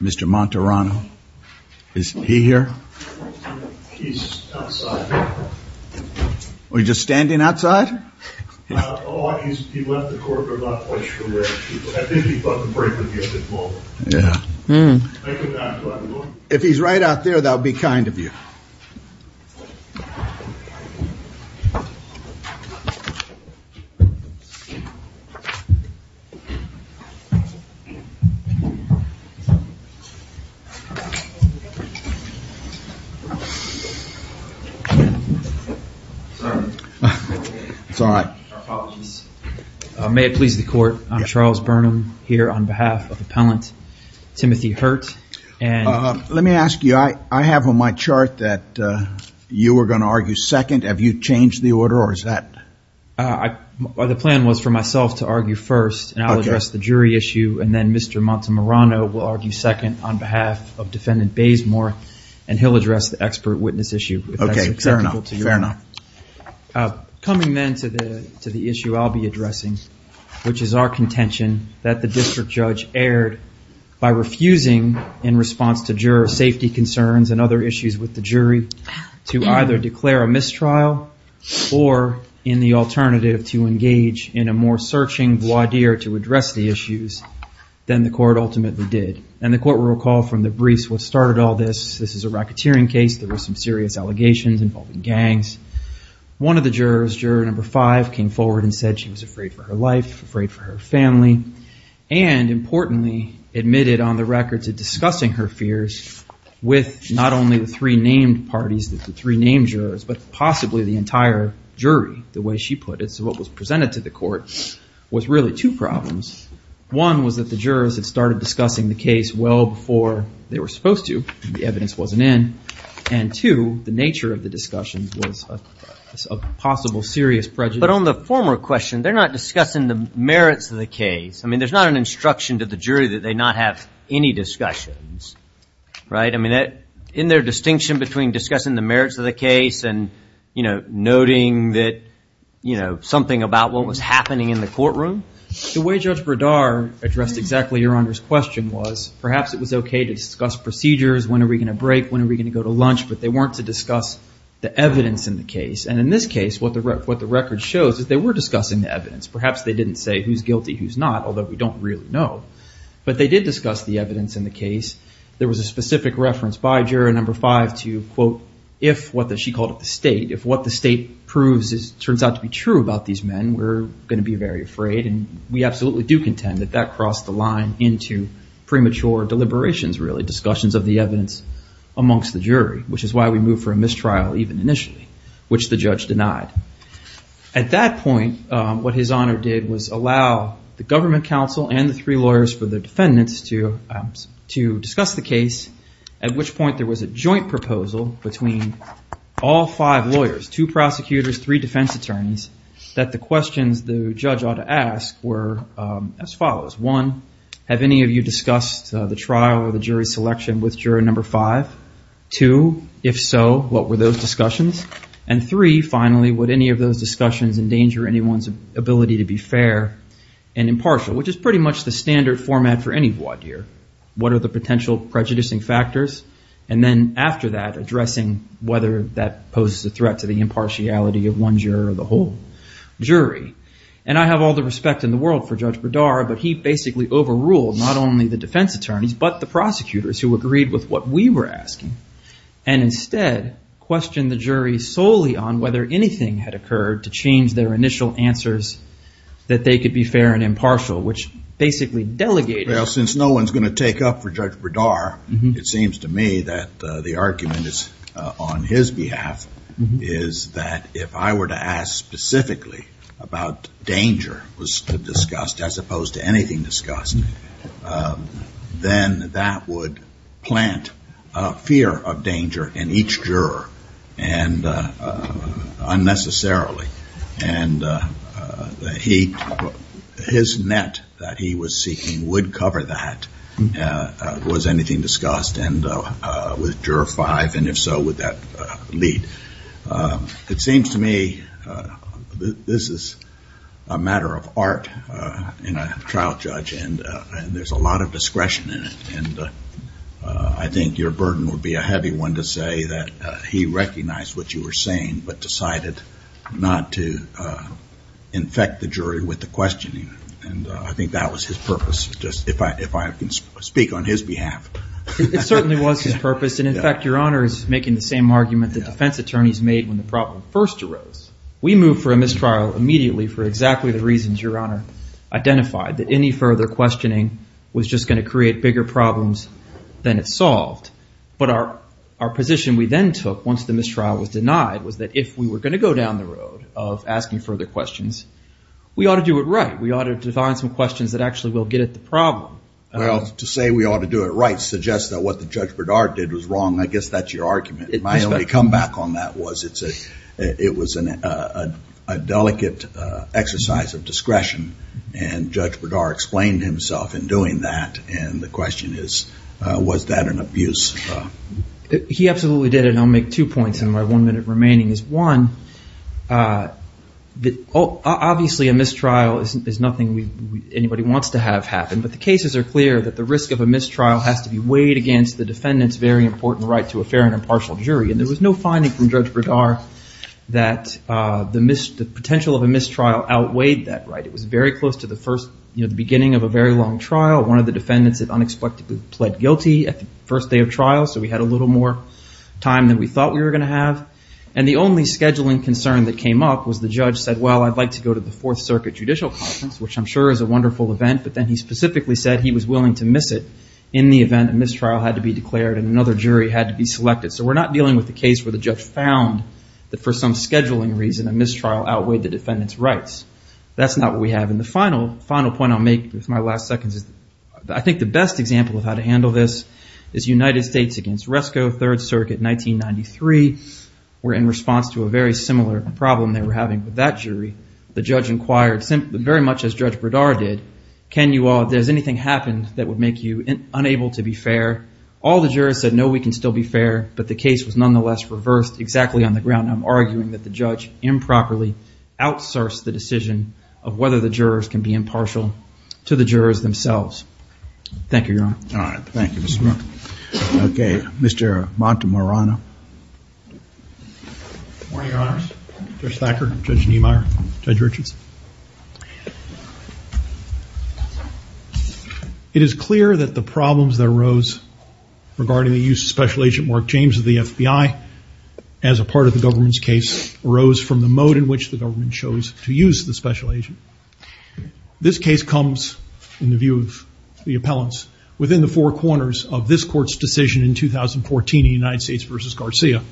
Mr. Monterano, is he here? We're just standing outside If he's right out there, that'll be kind of you May it please the court, I'm Charles Burnham here on behalf of appellant Timothy Hurt and let me ask you I I have on my chart that you were going to argue second have you changed the order or is that I the plan was for myself to argue first and I'll address the jury issue and then Mr. Montemarano will argue second on behalf of defendant Baysmore and he'll address the expert witness issue. Okay, fair enough, fair enough. Coming then to the to the issue I'll be addressing which is our contention that the district judge erred by refusing in response to juror safety concerns and other issues with the jury to either declare a mistrial or in the alternative to engage in a more searching voir dire to address the issues Then the court ultimately did and the court will recall from the briefs what started all this. This is a racketeering case There were some serious allegations involving gangs one of the jurors juror number five came forward and said she was afraid for her life afraid for her family and Importantly admitted on the record to discussing her fears With not only the three named parties that the three named jurors, but possibly the entire jury the way she put it What was presented to the court was really two problems. One was that the jurors had started discussing the case well before they were supposed to. The evidence wasn't in and to the nature of the discussion was a possible serious prejudice. But on the former question, they're not discussing the merits of the case. I mean, there's not an instruction to the jury that they not have any discussions, right? I mean that in their distinction between discussing the merits of the case and you know, noting that, you know, something about what was happening in the courtroom. The way Judge Bradar addressed exactly your honor's question was perhaps it was okay to discuss procedures. When are we going to break? When are we going to go to lunch? But they weren't to discuss the evidence in the case. And in this case, what the record shows is they were discussing the evidence. Perhaps they didn't say who's guilty, who's not, although we don't really know. But they did discuss the evidence in the case. There was a specific reference by juror number five to quote, if what she called it the state, if what the state proves is turns out to be true about these men, we're going to be very afraid. And we absolutely do contend that that crossed the line into premature deliberations, really discussions of the evidence amongst the jury, which is why we move for a mistrial even initially, which the judge denied. At that point, what his honor did was allow the government counsel and the three lawyers for the defendants to, to discuss the case, at which point there was a joint proposal between all five lawyers, two prosecutors, three defense attorneys, that the questions the judge ought to ask were as follows. One, have any of you discussed the trial or the jury selection with juror number five? Two, if so, what were those discussions? And three, finally, would any of those discussions endanger anyone's ability to be fair and impartial, which is pretty much the standard format for any voir dire. What are the potential prejudicing factors? And then after that, addressing whether that poses a threat to the impartiality of one juror or the whole jury. And I have all the respect in the world for Judge Bredar, but he basically overruled not only the defense attorneys, but the prosecutors who agreed with what we were asking, and instead questioned the jury solely on whether anything had occurred to change their initial answers that they could be fair and impartial, which basically delegated. Well, since no one's going to take up for Judge Bredar, it seems to me that the argument is on his behalf, is that if I were to ask specifically about danger was discussed, as opposed to anything discussed, then that would plant a fear of danger in each juror and unnecessarily. And his net that he was seeking would cover that, was anything discussed with juror five, and if so, would that lead? It seems to me that this is a matter of art in a trial judge, and there's a lot of discretion in it, and I think your burden would be a heavy one to say that he recognized what you were saying, but decided not to. In fact, the jury with the questioning, and I think that was his purpose, just if I can speak on his behalf. It certainly was his purpose, and in fact, your honor is making the same argument that defense attorneys made when the problem first arose. We moved for a mistrial immediately for exactly the reasons your honor identified, that any further questioning was just going to create bigger problems than it solved. But our position we then took, once the mistrial was denied, was that if we were going to go down the road of asking further questions, we ought to do it right. We ought to define some questions that actually will get at the problem. Well, to say we ought to do it right suggests that what Judge Bredar did was wrong. I guess that's your argument. My only comeback on that was it was a delicate exercise of discretion, and Judge Bredar explained himself in doing that. And the question is, was that an abuse? He absolutely did, and I'll make two points in my one minute remaining. One, obviously a mistrial is nothing anybody wants to have happen, but the cases are clear that the risk of a mistrial has to be weighed against the defendant's very important right to a fair and impartial jury. And there was no finding from Judge Bredar that the potential of a mistrial outweighed that right. It was very close to the beginning of a very long trial. One of the defendants had unexpectedly pled guilty at the first day of trial, so we had a little more time than we thought we were going to have. And the only scheduling concern that came up was the judge said, well, I'd like to go to the Fourth Circuit Judicial Conference, which I'm sure is a wonderful event. But then he specifically said he was willing to miss it in the event a mistrial had to be declared and another jury had to be selected. So we're not dealing with a case where the judge found that for some scheduling reason, a mistrial outweighed the defendant's rights. That's not what we have. And the final point I'll make with my last seconds is I think the best example of how to handle this is United States against Resco, Third Circuit, 1993. We're in response to a very similar problem they were having with that jury. The judge inquired, very much as Judge Bredar did, can you all, does anything happen that would make you unable to be fair? All the jurors said, no, we can still be fair. But the case was nonetheless reversed exactly on the ground. And I'm arguing that the judge improperly outsourced the decision of whether the jurors can be impartial to the jurors themselves. Thank you, Your Honor. All right. Thank you, Mr. Moore. OK. Mr. Montemorano. Good morning, Your Honors. Judge Thacker, Judge Niemeyer, Judge Richards. It is clear that the problems that arose regarding the use of Special Agent Mark James of the FBI as a part of the government's case arose from the mode in which the government chose to use the Special Agent. This case comes, in the view of the appellants, within the four corners of this court's decision in 2014 in United States versus Garcia.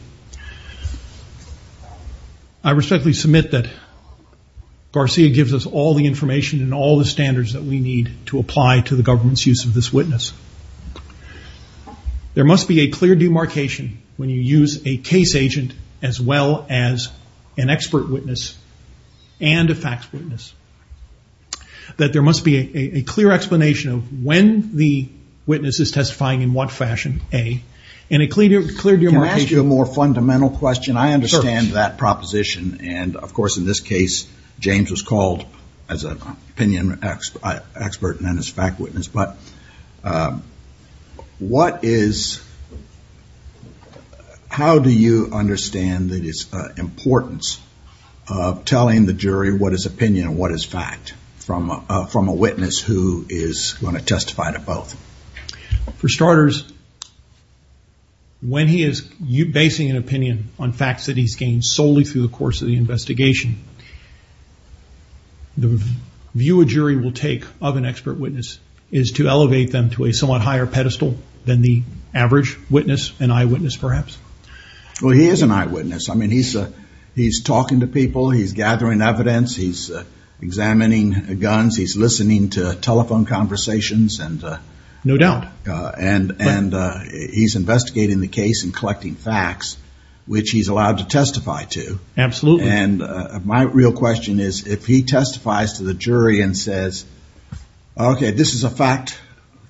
I respectfully submit that Garcia gives us all the information and all the standards that we need to apply to the government's use of this witness. There must be a clear demarcation when you use a case agent as well as an expert witness and a facts witness. That there must be a clear explanation of when the witness is testifying in what fashion, A, and a clear demarcation. Can I ask you a more fundamental question? I understand that proposition. And of course, in this case, James was called as an opinion expert and then as a fact witness. But what is, how do you understand the importance of telling the jury what is opinion and what is fact from a witness who is going to testify to both? For starters, when he is basing an opinion on facts that he's gained solely through the course of the investigation, the view a jury will take of an expert witness is to elevate them to a somewhat higher pedestal than the average witness, an eyewitness, perhaps. Well, he is an eyewitness. I mean, he's talking to people, he's gathering evidence, he's examining guns, he's listening to telephone conversations and... No doubt. And he's investigating the case and collecting facts, which he's allowed to testify to. Absolutely. And my real question is, if he testifies to the jury and says, okay, this is a fact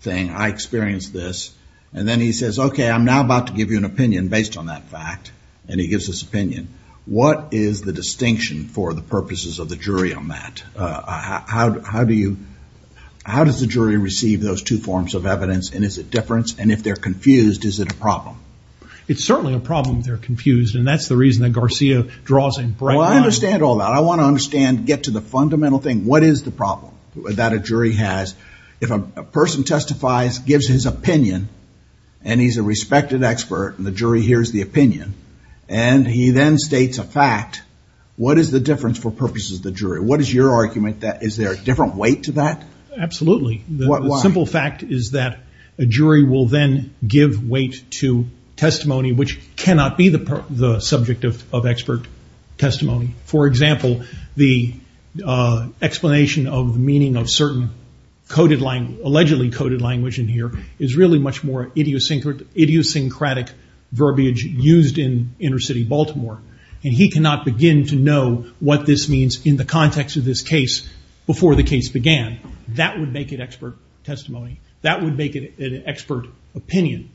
thing, I experienced this. And then he says, okay, I'm now about to give you an opinion based on that fact. And he gives this opinion. What is the distinction for the purposes of the jury on that? How do you, how does the jury receive those two forms of evidence? And is it difference? And if they're confused, is it a problem? It's certainly a problem if they're confused. And that's the reason that Garcia draws in... Well, I understand all that. I want to understand, get to the fundamental thing. What is the problem that a jury has? If a person testifies, gives his opinion, and he's a respected expert, and the jury hears the opinion, and he then states a fact, what is the difference for purposes of the jury? What is your argument that is there a different weight to that? Absolutely. The simple fact is that a jury will then give weight to testimony, which cannot be the subject of expert testimony. For example, the explanation of meaning of certain coded language, allegedly coded language in here, is really much more idiosyncratic verbiage used in inner city Baltimore. And he cannot begin to know what this means in the context of this case before the case began. That would make it expert testimony. That would make it an expert opinion.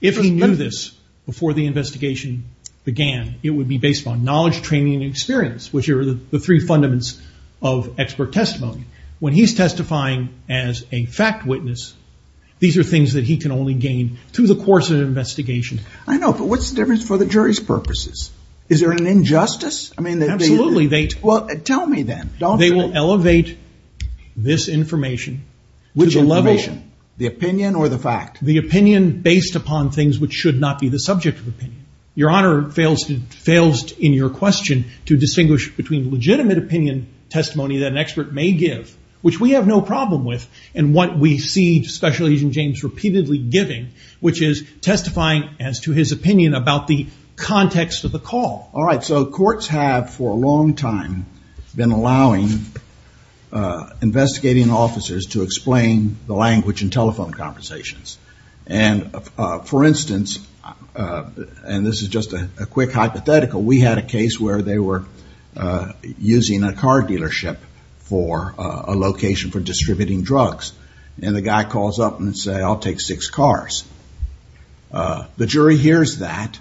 If he knew this before the investigation began, it would be based on knowledge, training, and experience, which are the three fundaments of expert testimony. When he's testifying as a fact witness, these are things that he can only gain through the course of the investigation. I know, but what's the difference for the jury's purposes? Is there an injustice? I mean, they... Absolutely. Well, tell me then. They will elevate this information to the level... Which information? The opinion or the fact? The opinion based upon things which should not be the subject of opinion. Your Honor, it fails in your question to distinguish between legitimate opinion testimony that an expert may give, which we have no problem with, and what we see Special Agent James repeatedly giving, which is testifying as to his opinion about the context of the call. All right, so courts have for a long time been allowing investigating officers to explain the language in telephone conversations. And for instance, and this is just a quick hypothetical, we had a case where they were using a car dealership for a location for distributing drugs. And the guy calls up and says, I'll take six cars. The jury hears that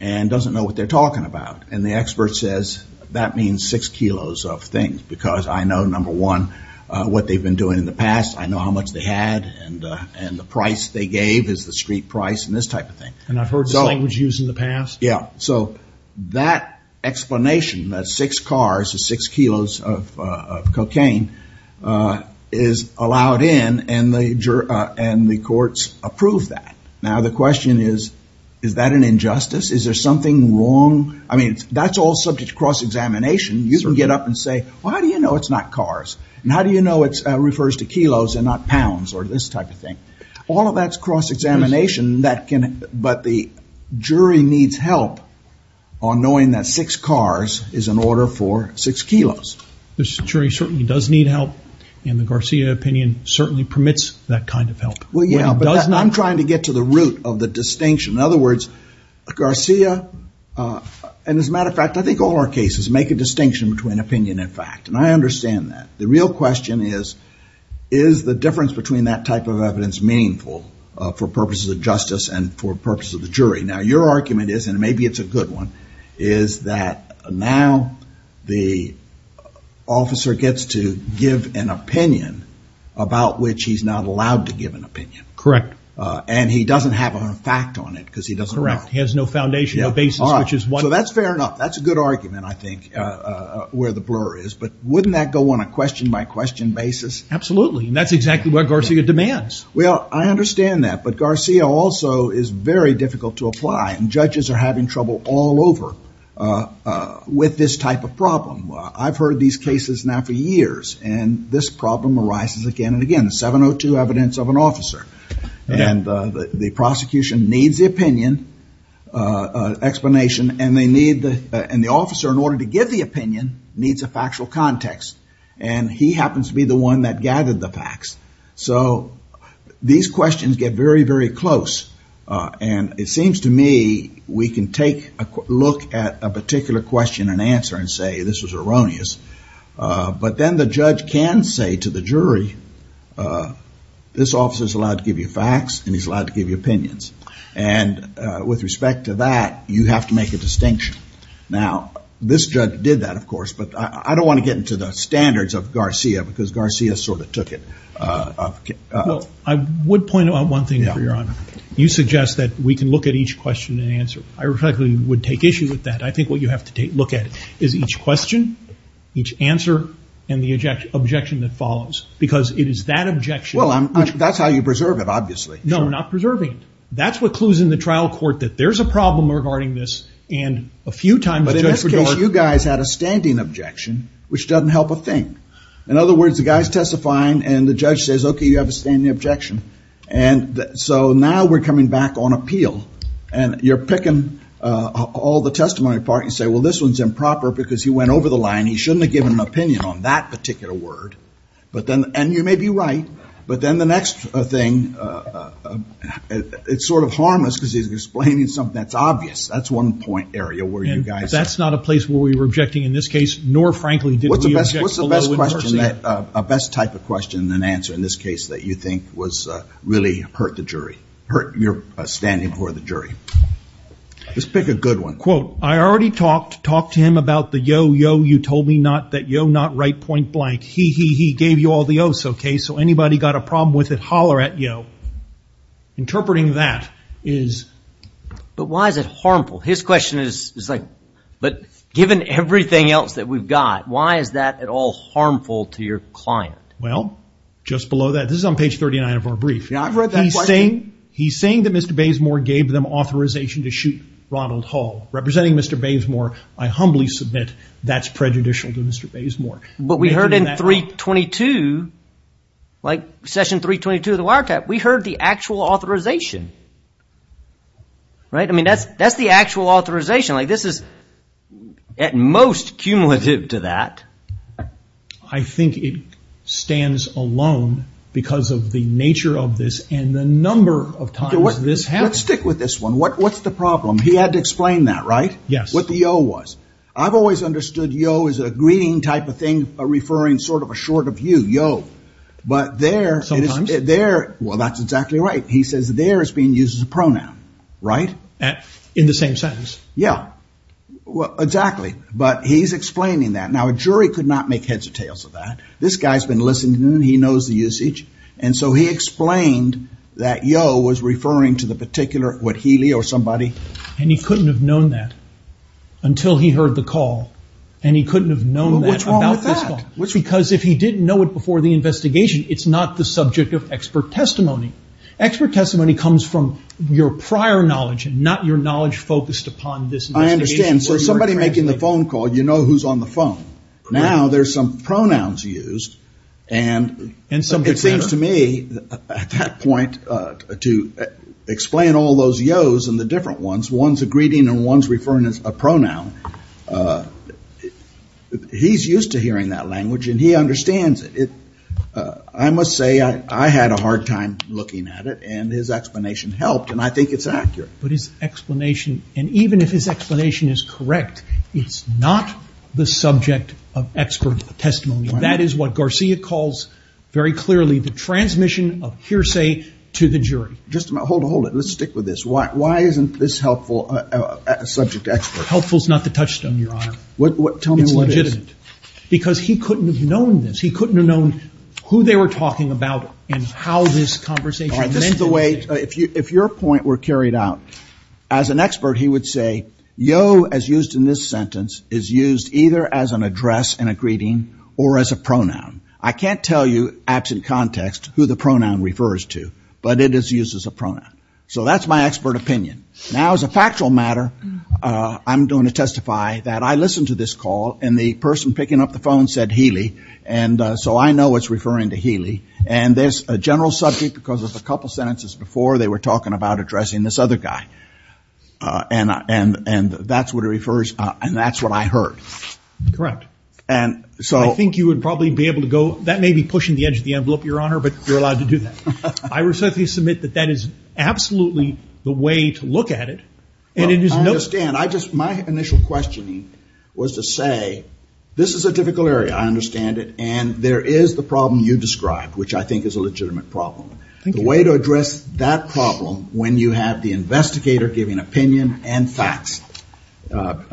and doesn't know what they're talking about. And the expert says, that means six kilos of things, because I know, number one, what they've been doing in the past. I know how much they had and the price they gave is the street price and this type of thing. And I've heard this language used in the past. Yeah, so that explanation, that six cars or six kilos of cocaine, is allowed in and the courts approve that. Now, the question is, is that an injustice? Is there something wrong? I mean, that's all subject to cross-examination. You can get up and say, well, how do you know it's not cars? And how do you know it refers to kilos and not pounds or this type of thing? All of that's cross-examination, but the jury needs help on knowing that six cars is an order for six kilos. The jury certainly does need help and the Garcia opinion certainly permits that kind of help. Well, yeah, but I'm trying to get to the root of the distinction. In other words, Garcia, and as a matter of fact, I think all our cases make a distinction between opinion and fact. And I understand that. The real question is, is the difference between that type of evidence meaningful for purposes of justice and for purposes of the jury? Now, your argument is, and maybe it's a good one, is that now the officer gets to give an opinion about which he's not allowed to give an opinion. Correct. And he doesn't have a fact on it because he doesn't know. Correct. Has no foundation, no basis, which is why. So that's fair enough. That's a good argument, I think, where the blur is. But wouldn't that go on a question by question basis? Absolutely. And that's exactly what Garcia demands. Well, I understand that. But Garcia also is very difficult to apply. And judges are having trouble all over with this type of problem. I've heard these cases now for years. And this problem arises again and again, 702 evidence of an officer and the prosecution needs the opinion explanation. And the officer, in order to give the opinion, needs a factual context. And he happens to be the one that gathered the facts. So these questions get very, very close. And it seems to me we can take a look at a particular question and answer and say, this was erroneous. But then the judge can say to the jury, this officer is allowed to give you facts and he's allowed to give you opinions. And with respect to that, you have to make a distinction. Now, this judge did that, of course. But I don't want to get into the standards of Garcia, because Garcia sort of took it. I would point out one thing for your honor. You suggest that we can look at each question and answer. I reflect that you would take issue with that. I think what you have to look at is each question, each answer, and the objection that follows. Because it is that objection. Well, that's how you preserve it, obviously. No, we're not preserving it. That's what clues in the trial court that there's a problem regarding this. And a few times, Judge Bredore- But in this case, you guys had a standing objection, which doesn't help a thing. In other words, the guy's testifying and the judge says, OK, you have a standing objection. And so now we're coming back on appeal. And you're picking all the testimony apart and say, well, this one's improper because he went over the line. He shouldn't have given an opinion on that particular word. But then, and you may be right. But then the next thing, it's sort of harmless because he's explaining something that's obvious. That's one point area where you guys- That's not a place where we were objecting in this case, nor, frankly, did we object below in person. What's the best type of question and answer in this case that you think really hurt the jury, hurt your standing for the jury? Let's pick a good one. Quote, I already talked to him about the yo, yo, you told me not that yo, not right point blank. He, he, he gave you all the o's. OK, so anybody got a problem with it, holler at yo. Interpreting that is- But why is it harmful? His question is like, but given everything else that we've got, why is that at all harmful to your client? Well, just below that, this is on page 39 of our brief. Yeah, I've read that question. He's saying that Mr. Baysmore gave them authorization to shoot Ronald Hall. Representing Mr. Baysmore, I humbly submit that's prejudicial to Mr. Baysmore. But we heard in 322, like session 322 of the wiretap, we heard the actual authorization. Right, I mean, that's that's the actual authorization, like this is at most cumulative to that. I think it stands alone because of the nature of this and the number of times this happened. Stick with this one. What's the problem? He had to explain that, right? Yes. What the yo was. I've always understood yo as a greeting type of thing, a referring sort of a short of you, yo. But there- Sometimes. There, well, that's exactly right. He says there is being used as a pronoun, right? In the same sentence. Yeah, well, exactly. But he's explaining that. Now, a jury could not make heads or tails of that. This guy's been listening and he knows the usage. And so he explained that yo was referring to the particular, what, Healy or somebody? And he couldn't have known that until he heard the call. And he couldn't have known that about this call. Well, what's wrong with that? Because if he didn't know it before the investigation, it's not the subject of expert testimony. Expert testimony comes from your prior knowledge and not your knowledge focused upon this investigation. I understand. So somebody making the phone call, you know who's on the phone. Now there's some pronouns used. And it seems to me at that point to explain all those yo's and the different ones, one's a greeting and one's referring to a pronoun. He's used to hearing that language and he understands it. I must say, I had a hard time looking at it and his explanation helped. And I think it's accurate. But his explanation, and even if his explanation is correct, it's not the subject of expert testimony. That is what Garcia calls very clearly the transmission of hearsay to the jury. Just hold it. Let's stick with this. Why isn't this helpful subject to expert? Helpful is not the touchstone, Your Honor. Tell me what is. It's legitimate. Because he couldn't have known this. He couldn't have known who they were talking about and how this conversation. All right, this is the way, if your point were carried out, as an expert, he would say yo, as used in this sentence, is used either as an address and a greeting or as a pronoun. I can't tell you absent context who the pronoun refers to, but it is used as a pronoun. So that's my expert opinion. Now, as a factual matter, I'm going to testify that I listened to this call and the person picking up the phone said Healy. And so I know it's referring to Healy. And there's a general subject because of a couple of sentences before they were talking about addressing this other guy. And that's what it refers, and that's what I heard. Correct. And so I think you would probably be able to go, that may be pushing the edge of the envelope, Your Honor, but you're allowed to do that. I respectfully submit that that is absolutely the way to look at it. And it is no... I understand. I just, my initial questioning was to say, this is a difficult area. I understand it. And there is the problem you described, which I think is a legitimate problem. The way to address that problem, when you have the investigator giving opinion and facts,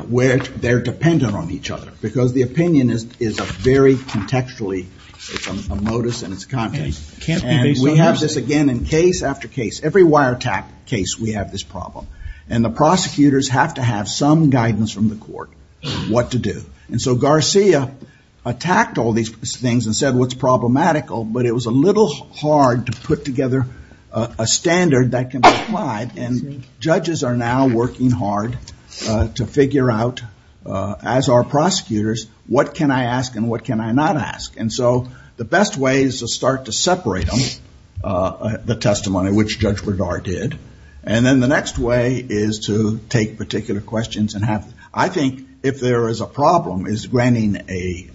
where they're dependent on each other, because the opinion is, is a very contextually, it's a modus in its context. And we have this again in case after case, every wiretap case, we have this problem. And the prosecutors have to have some guidance from the court what to do. And so Garcia attacked all these things and said, what's problematical, but it was a little hard to put together a standard that can be applied. And judges are now working hard to figure out, as are prosecutors, what can I ask and what can I not ask? And so the best way is to start to separate them, the testimony, which Judge Bredar did. And then the next way is to take particular questions and have, I think if there is a problem, is granting a,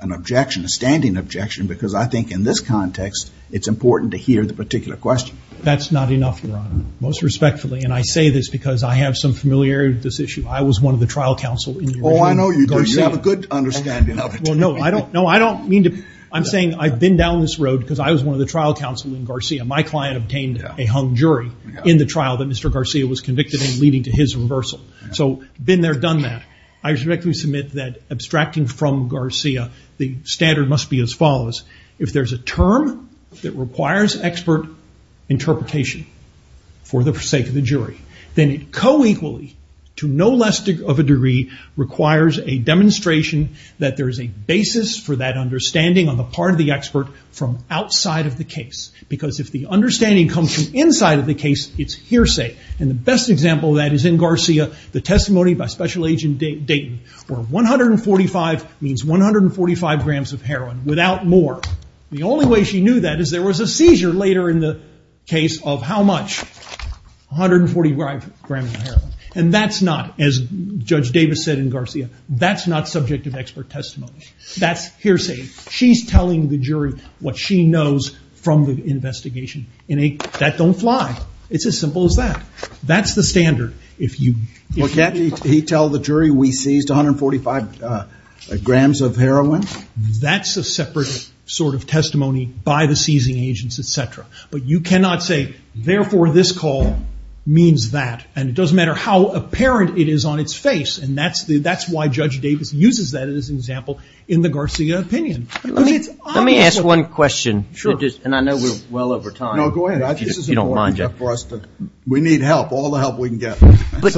an objection, a standing objection, because I think in this context, it's important to hear the particular question. That's not enough, Your Honor, most respectfully. And I say this because I have some familiarity with this issue. I was one of the trial counsel. Oh, I know you do. You have a good understanding of it. Well, no, I don't. I'm saying I've been down this road because I was one of the trial counsel in Garcia. My client obtained a hung jury in the trial that Mr. Garcia was convicted in, leading to his reversal. So, been there, done that. I respectfully submit that, abstracting from Garcia, the standard must be as follows. If there's a term that requires expert interpretation for the sake of the jury, then it co-equally, to no less of a degree, requires a demonstration that there is a basis for that understanding on the part of the expert from outside of the case. Because if the understanding comes from inside of the case, it's hearsay. And the best example of that is in Garcia, the testimony by Special Agent Dayton, where 145 means 145 grams of heroin, without more. The only way she knew that is there was a seizure later in the case of how much, 145 grams of heroin. And that's not, as Judge Davis said in Garcia, that's not subject of expert testimony. That's hearsay. She's telling the jury what she knows from the investigation. And that don't fly. It's as simple as that. That's the standard. If you... Well, can't he tell the jury we seized 145 grams of heroin? That's a separate sort of testimony by the seizing agents, etc. But you cannot say, therefore, this call means that. And it doesn't matter how apparent it is on its face. And that's why Judge Davis uses that as an example in the Garcia opinion. Let me ask one question. Sure. And I know we're well over time. No, go ahead. I think this is important enough for us to... We need help, all the help we can get. But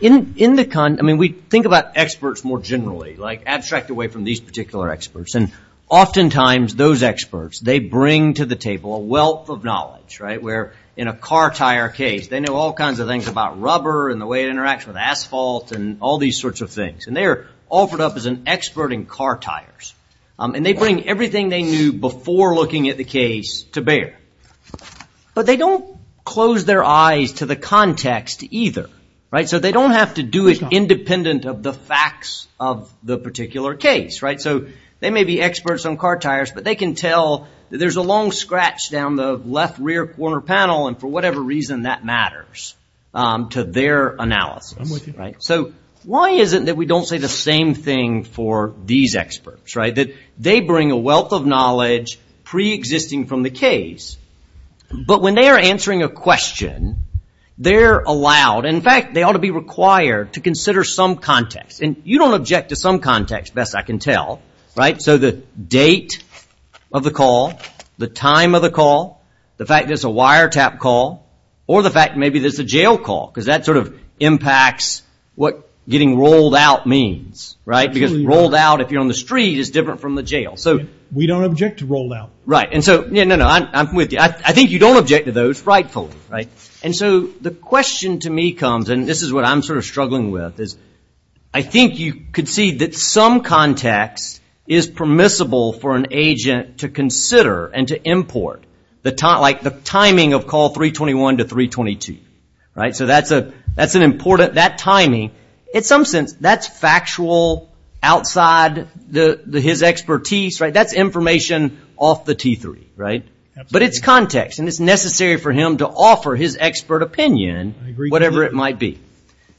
in the con, I mean, we think about experts more generally, like abstract away from these particular experts. And oftentimes those experts, they bring to the table a wealth of knowledge, right? Where in a car tire case, they know all kinds of things about rubber and the way it interacts with asphalt and all these sorts of things. And they're offered up as an expert in car tires. And they bring everything they knew before looking at the case to bear. But they don't close their eyes to the context either, right? So they don't have to do it independent of the facts of the particular case, right? So they may be experts on car tires, but they can tell that there's a long scratch down the left rear corner panel. And for whatever reason, that matters to their analysis, right? So why is it that we don't say the same thing for these experts, right? That they bring a wealth of knowledge pre-existing from the case. But when they are answering a question, they're allowed, in fact, they ought to be required to consider some context. And you don't object to some context, best I can tell, right? So the date of the call, the time of the call, the fact there's a wiretap call, or the fact maybe there's a jail call. Because that sort of impacts what getting rolled out means, right? Because rolled out, if you're on the street, is different from the jail. So we don't object to rolled out. Right. And so, yeah, no, no, I'm with you. I think you don't object to those rightfully, right? And so the question to me comes, and this is what I'm sort of struggling with, is I think you could see that some context is permissible for an agent to consider and to import the timing of call 321 to 322, right? So that's an important, that timing, in some sense, that's factual outside his expertise, right? That's information off the T3, right? But it's context and it's necessary for him to offer his expert opinion, whatever it might be.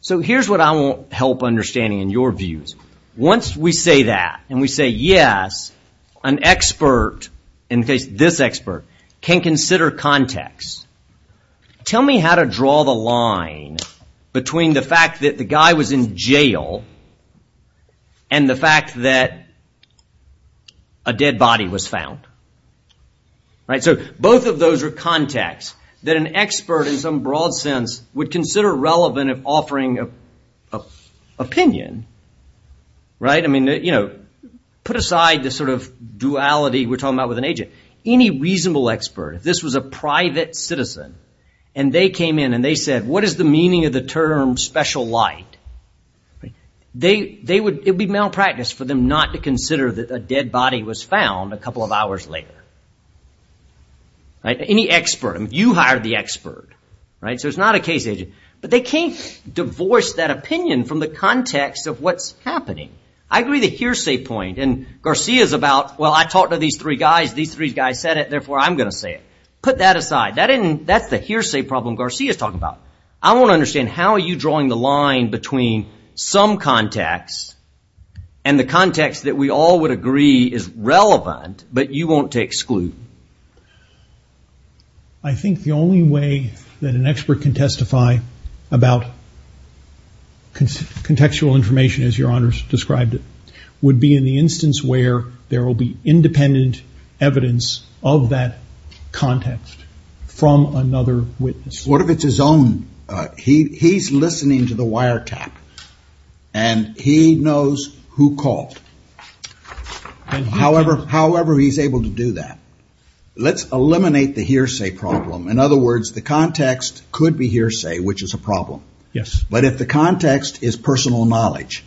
So here's what I want help understanding in your views. Once we say that and we say, yes, an expert, in this case, this expert can consider context. Tell me how to draw the line between the fact that the guy was in jail. And the fact that a dead body was found. Right, so both of those are contexts that an expert in some broad sense would consider relevant in offering an opinion, right? I mean, you know, put aside the sort of duality we're talking about with an agent. Any reasonable expert, if this was a private citizen and they came in and they said, what is the meaning of the term special light? They would, it would be malpractice for them not to consider that a dead body was found a couple of hours later. Right, any expert, you hired the expert, right? So it's not a case agent, but they can't divorce that opinion from the context of what's happening. I agree the hearsay point and Garcia's about, well, I talked to these three guys, these three guys said it, therefore, I'm going to say it. Put that aside. That isn't, that's the hearsay problem Garcia's talking about. I want to understand how are you drawing the line between some context and the context that we all would agree is relevant, but you want to exclude. I think the only way that an expert can testify about contextual information, as your honors described it, would be in the instance where there will be independent evidence of that context from another witness. What if it's his own, uh, he, he's listening to the wiretap and he knows who called. However, however, he's able to do that. Let's eliminate the hearsay problem. In other words, the context could be hearsay, which is a problem. Yes. But if the context is personal knowledge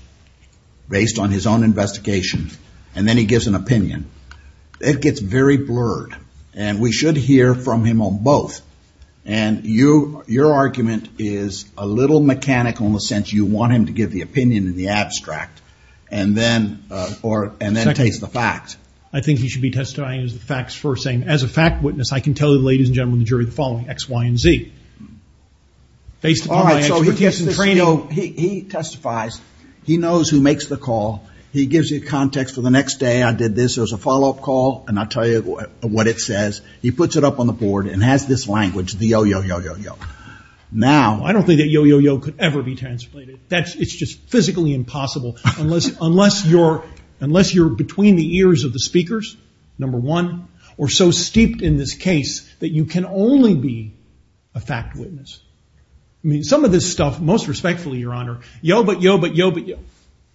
based on his own investigation, and then he gives an opinion, it gets very blurred and we should hear from him on both. And you, your argument is a little mechanical in the sense you want him to give the opinion in the abstract and then, uh, or, and then it takes the facts. I think he should be testifying as the facts first saying, as a fact witness, I can tell you, ladies and gentlemen, the jury, the following X, Y, and Z. Based upon my expertise and training. He testifies, he knows who makes the call. He gives you a context for the next day. I did this as a follow-up call and I'll tell you what it says. He puts it up on the board and has this language, the yo, yo, yo, yo, yo. Now. I don't think that yo, yo, yo could ever be translated. That's, it's just physically impossible. Unless, unless you're, unless you're between the ears of the speakers, number one, or so steeped in this case that you can only be a fact witness. I mean, some of this stuff, most respectfully, your honor. Yo, but yo, but yo, but yo,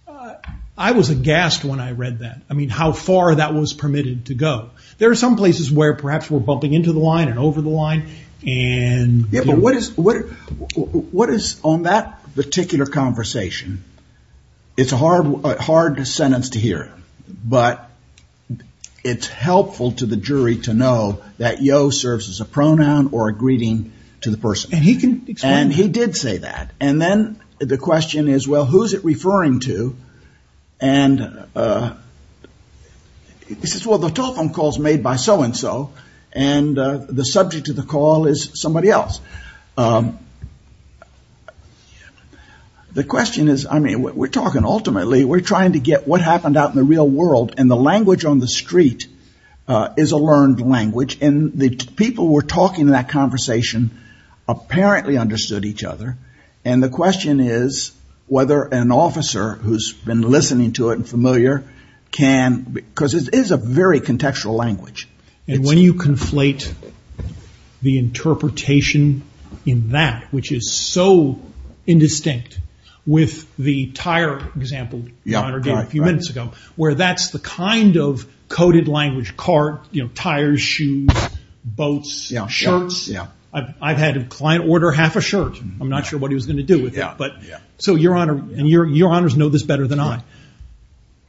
uh, I was aghast when I read that. I mean, how far that was permitted to go. There are some places where perhaps we're bumping into the line and over the line. And what is, what, what is on that particular conversation? It's a hard, hard sentence to hear, but it's helpful to the jury to know that yo serves as a pronoun or a greeting to the person and he can, and he did say that. And then the question is, well, who's it referring to? And, uh, he says, well, the telephone calls made by so-and-so and, uh, the subject of the call is somebody else. Um, the question is, I mean, we're talking ultimately, we're trying to get what happened out in the real world and the language on the street, uh, is a learned language and the people were talking in that conversation apparently understood each other. And the question is whether an officer who's been listening to it and familiar can, because it is a very contextual language. And when you conflate the interpretation in that, which is so indistinct with the tire example, where that's the kind of coded language car, you know, tires, shoes, boats, shirts. I've, I've had a client order half a shirt. I'm not sure what he was going to do with that. But so your honor and your, your honors know this better than I,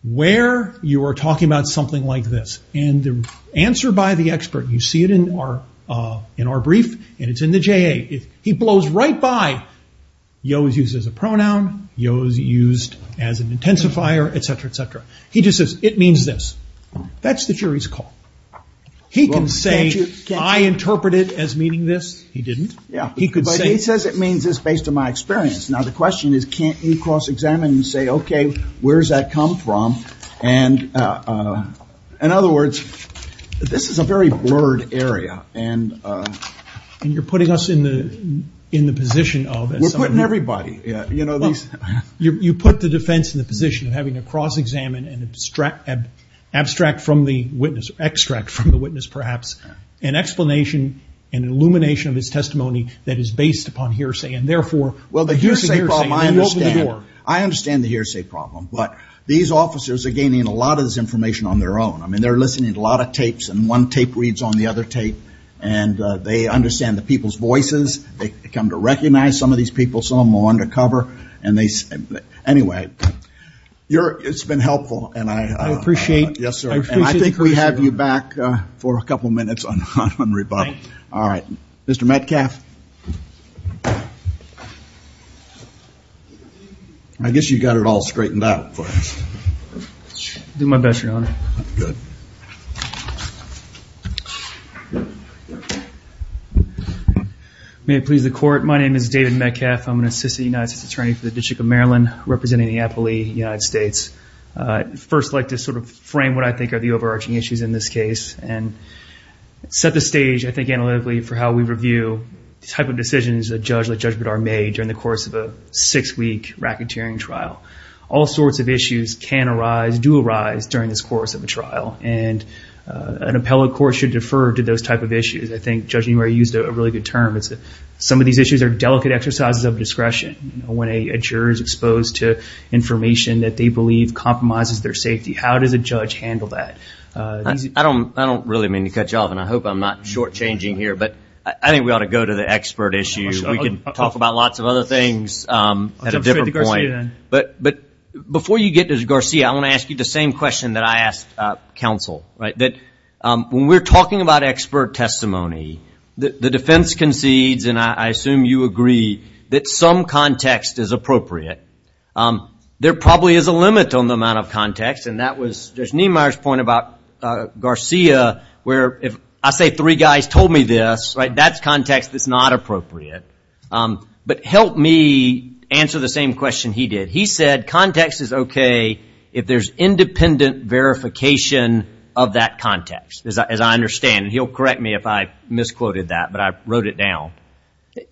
where you are talking about something like this and the answer by the expert, you see it in our, uh, in our brief and it's in the JA. If he blows right by, he always uses a pronoun, he always used as an intensifier, et cetera, et cetera. He just says, it means this, that's the jury's call. He can say, I interpret it as meaning this. He didn't. Yeah. He could say, he says it means this based on my experience. Now the question is, can't you cross examine and say, okay, where's that come from? And, uh, uh, in other words, this is a very blurred area and, uh, and you're putting us in the, in the position of everybody, you know, you put the defense in the position of having a cross examine and abstract, abstract from the witness extract from the witness, perhaps an explanation and illumination of his testimony that is based upon hearsay and therefore, well, the hearsay problem, I understand, I understand the hearsay problem, but these officers are gaining a lot of this information on their own. I mean, they're listening to a lot of tapes and one tape reads on the other tape and, uh, they understand the people's voices, they come to recognize some of these people, some of them are undercover and they, anyway, you're, it's been helpful and I, uh, yes, sir. And I think we have you back, uh, for a couple of minutes on, on rebuttal. All right, Mr. Metcalf. I guess you've got it all straightened out for us. Do my best, Your Honor. Good. May it please the court. My name is David Metcalf. I'm an assistant United States attorney for the district of Maryland representing the Appalachian United States. Uh, first like to sort of frame what I think are the overarching issues in this case and set the stage, I think, analytically for how we review the type of decisions a judge like Judge Bidard made during the course of a six week racketeering trial. All sorts of issues can arise, do arise during this course of a trial. And, uh, an appellate court should defer to those type of issues. I think Judge Numeri used a really good term. It's that some of these issues are delicate exercises of discretion. You know, when a juror is exposed to information that they believe compromises their safety, how does a judge handle that? Uh, I don't, I don't really mean to cut you off and I hope I'm not short of the expert issue. We can talk about lots of other things, um, at a different point, but, but before you get to Garcia, I want to ask you the same question that I asked, uh, counsel, right? That, um, when we're talking about expert testimony, the defense concedes, and I assume you agree that some context is appropriate. Um, there probably is a limit on the amount of context. And that was Judge Niemeyer's point about, uh, Garcia where if I say three guys told me this, right? That's context that's not appropriate. Um, but help me answer the same question he did. He said context is okay if there's independent verification of that context, as I, as I understand. And he'll correct me if I misquoted that, but I wrote it down.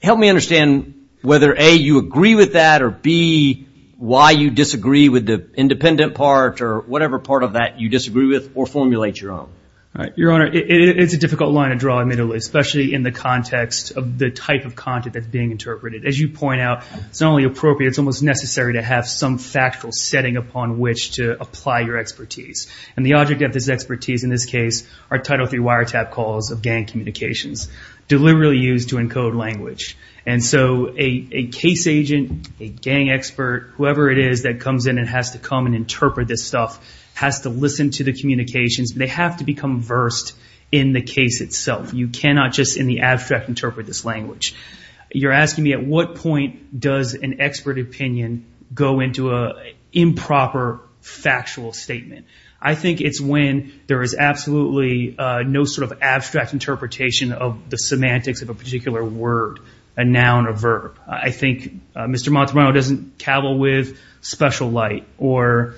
Help me understand whether A, you agree with that or B, why you disagree with the independent part or whatever part of that you disagree with or formulate your own. Right. Your Honor, it's a difficult line to draw immediately, especially in the context of the type of content that's being interpreted. As you point out, it's not only appropriate, it's almost necessary to have some factual setting upon which to apply your expertise. And the object of this expertise in this case are Title III wiretap calls of gang communications, deliberately used to encode language. And so a, a case agent, a gang expert, whoever it is that comes in and has to come and interpret this stuff, has to listen to the communications. They have to become versed in the case itself. You cannot just in the abstract interpret this language. You're asking me at what point does an expert opinion go into a improper factual statement? I think it's when there is absolutely no sort of abstract interpretation of the semantics of a particular word, a noun or verb. I think Mr. Montemarino doesn't cavil with special light or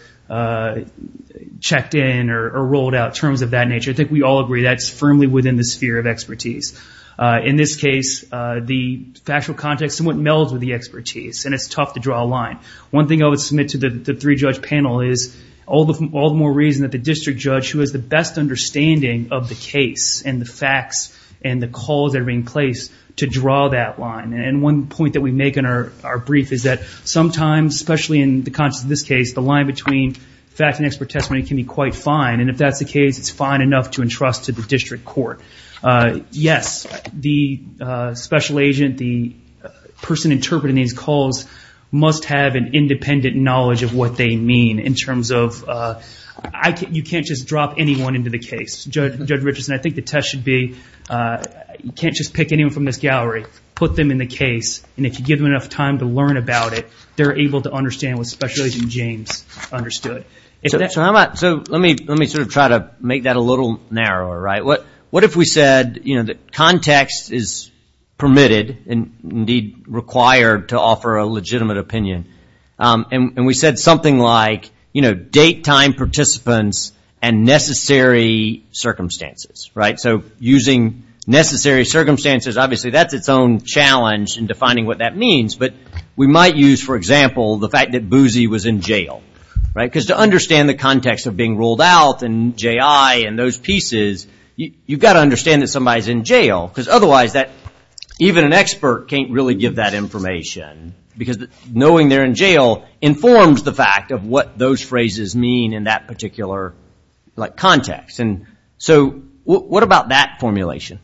checked in or rolled out terms of that nature. I think we all agree that's firmly within the sphere. Of expertise in this case, the factual context somewhat melds with the expertise and it's tough to draw a line. One thing I would submit to the three judge panel is all the, all the more reason that the district judge who has the best understanding of the case and the facts and the calls that are being placed to draw that line. And one point that we make in our, our brief is that sometimes, especially in the context of this case, the line between fact and expert testimony can be quite fine. And if that's the case, it's fine enough to entrust to the district court. Yes, the special agent, the person interpreting these calls must have an independent knowledge of what they mean in terms of, you can't just drop anyone into the case, Judge Richardson. I think the test should be, you can't just pick anyone from this gallery, put them in the case, and if you give them enough time to learn about it, they're able to understand what Special Agent James understood. So how about, so let me, let me sort of try to make that a little narrower, right? What if we said, you know, that context is permitted and indeed required to offer a legitimate opinion, and we said something like, you know, date, time, participants, and necessary circumstances, right? So using necessary circumstances, obviously that's its own challenge in defining what that means, but we might use, for example, the fact that Boozy was in jail, right? Because to understand the context of being ruled out and J.I. and those pieces, you've got to understand that somebody's in jail, because otherwise that, even an expert can't really give that information, because knowing they're in jail informs the fact of what those phrases mean in that particular, like, context. And so what about that formulation?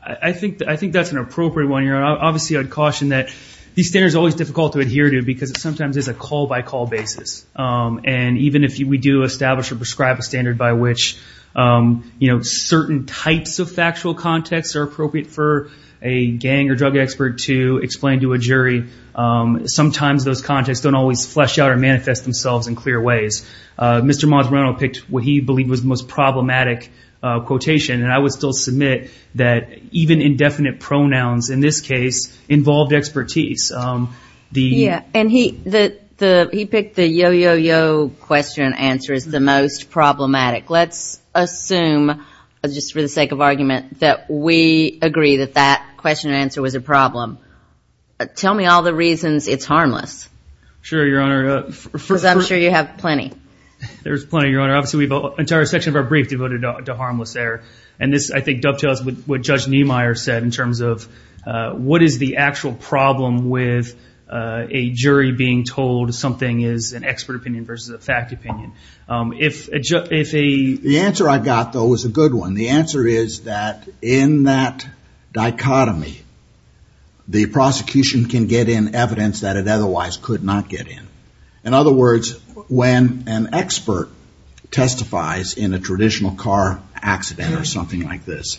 I think, I think that's an appropriate one. You're, obviously I'd caution that these standards are always difficult to adhere to because it sometimes is a call-by-call basis. And even if we do establish or prescribe a standard by which, you know, certain types of factual contexts are appropriate for a gang or drug expert to explain to a jury, sometimes those contexts don't always flesh out or manifest themselves in clear ways. Mr. Monsanto picked what he believed was the most problematic quotation. And I would still submit that even indefinite pronouns in this case involved expertise. Yeah. And he, the, the, he picked the yo-yo-yo question and answer as the most problematic. Let's assume, just for the sake of argument, that we agree that that question and answer was a problem. Tell me all the reasons it's harmless. Sure, Your Honor. Because I'm sure you have plenty. There's plenty, Your Honor. Obviously we've got an entire section of our brief devoted to harmless there. And this, I think, dovetails with what Judge Niemeyer said in terms of what is the actual problem with a jury being told something is an expert opinion versus a fact opinion. If, if a... The answer I got, though, was a good one. The answer is that in that dichotomy, the prosecution can get in evidence that it otherwise could not get in. In other words, when an expert testifies in a traditional car accident or something like this,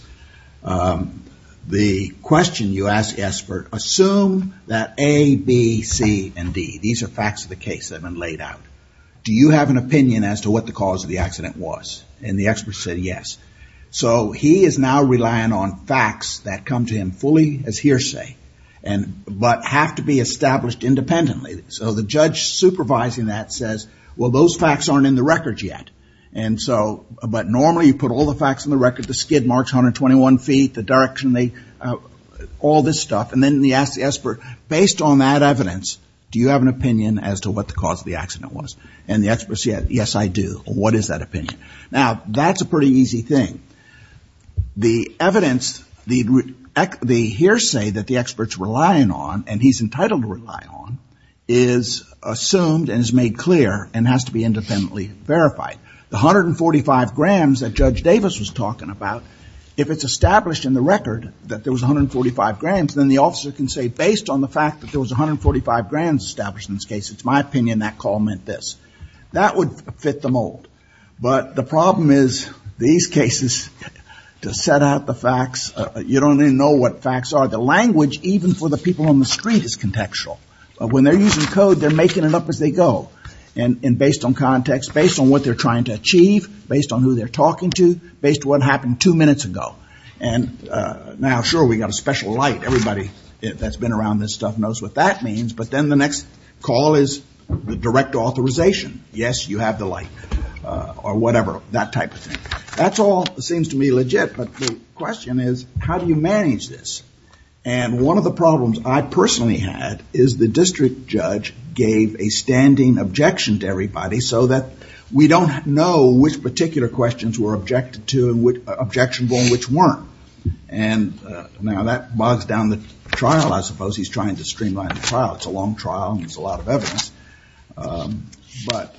the question you ask the expert, assume that A, B, C, and D, these are facts of the case that have been laid out. Do you have an opinion as to what the cause of the accident was? And the expert said, yes. So he is now relying on facts that come to him fully as hearsay and, but have to be established independently. So the judge supervising that says, well, those facts aren't in the record yet. And so, but normally you put all the facts in the record, the skid marks, 121 feet, the direction they, all this stuff. And then he asks the expert, based on that evidence, do you have an opinion as to what the cause of the accident was? And the expert said, yes, I do. What is that opinion? Now, that's a pretty easy thing. The evidence, the hearsay that the expert's relying on, and he's entitled to rely on, is assumed and is made clear and has to be independently verified. The 145 grams that Judge Davis was talking about, if it's established in the record that there was 145 grams, then the officer can say, based on the fact that there was 145 grams established in this case, it's my opinion that call meant this, that would fit the mold. But the problem is these cases to set out the facts, you don't even know what facts are, the language, even for the people on the street is contextual. When they're using code, they're making it up as they go. And based on context, based on what they're trying to achieve, based on who they're talking to, based on what happened two minutes ago. And now, sure, we've got a special light. Everybody that's been around this stuff knows what that means. But then the next call is the direct authorization. Yes, you have the light or whatever, that type of thing. That's all seems to me legit. But the question is, how do you manage this? And one of the problems I personally had is the district judge gave a standing objection to everybody so that we don't know which particular questions were objected to, objectionable, and which weren't. And now that bogs down the trial, I suppose he's trying to streamline the trial. It's a long trial and there's a lot of evidence. But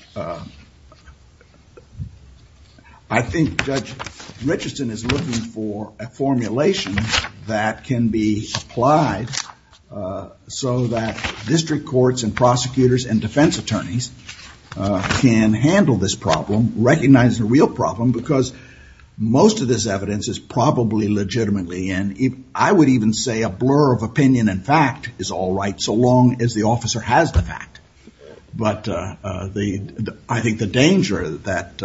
I think Judge Richardson is looking for a formulation that can be applied so that district courts and prosecutors and defense attorneys can handle this problem, recognize the real problem, because most of this evidence is probably legitimately. And I would even say a blur of opinion and fact is all right, so long as the officer has the fact. But I think the danger that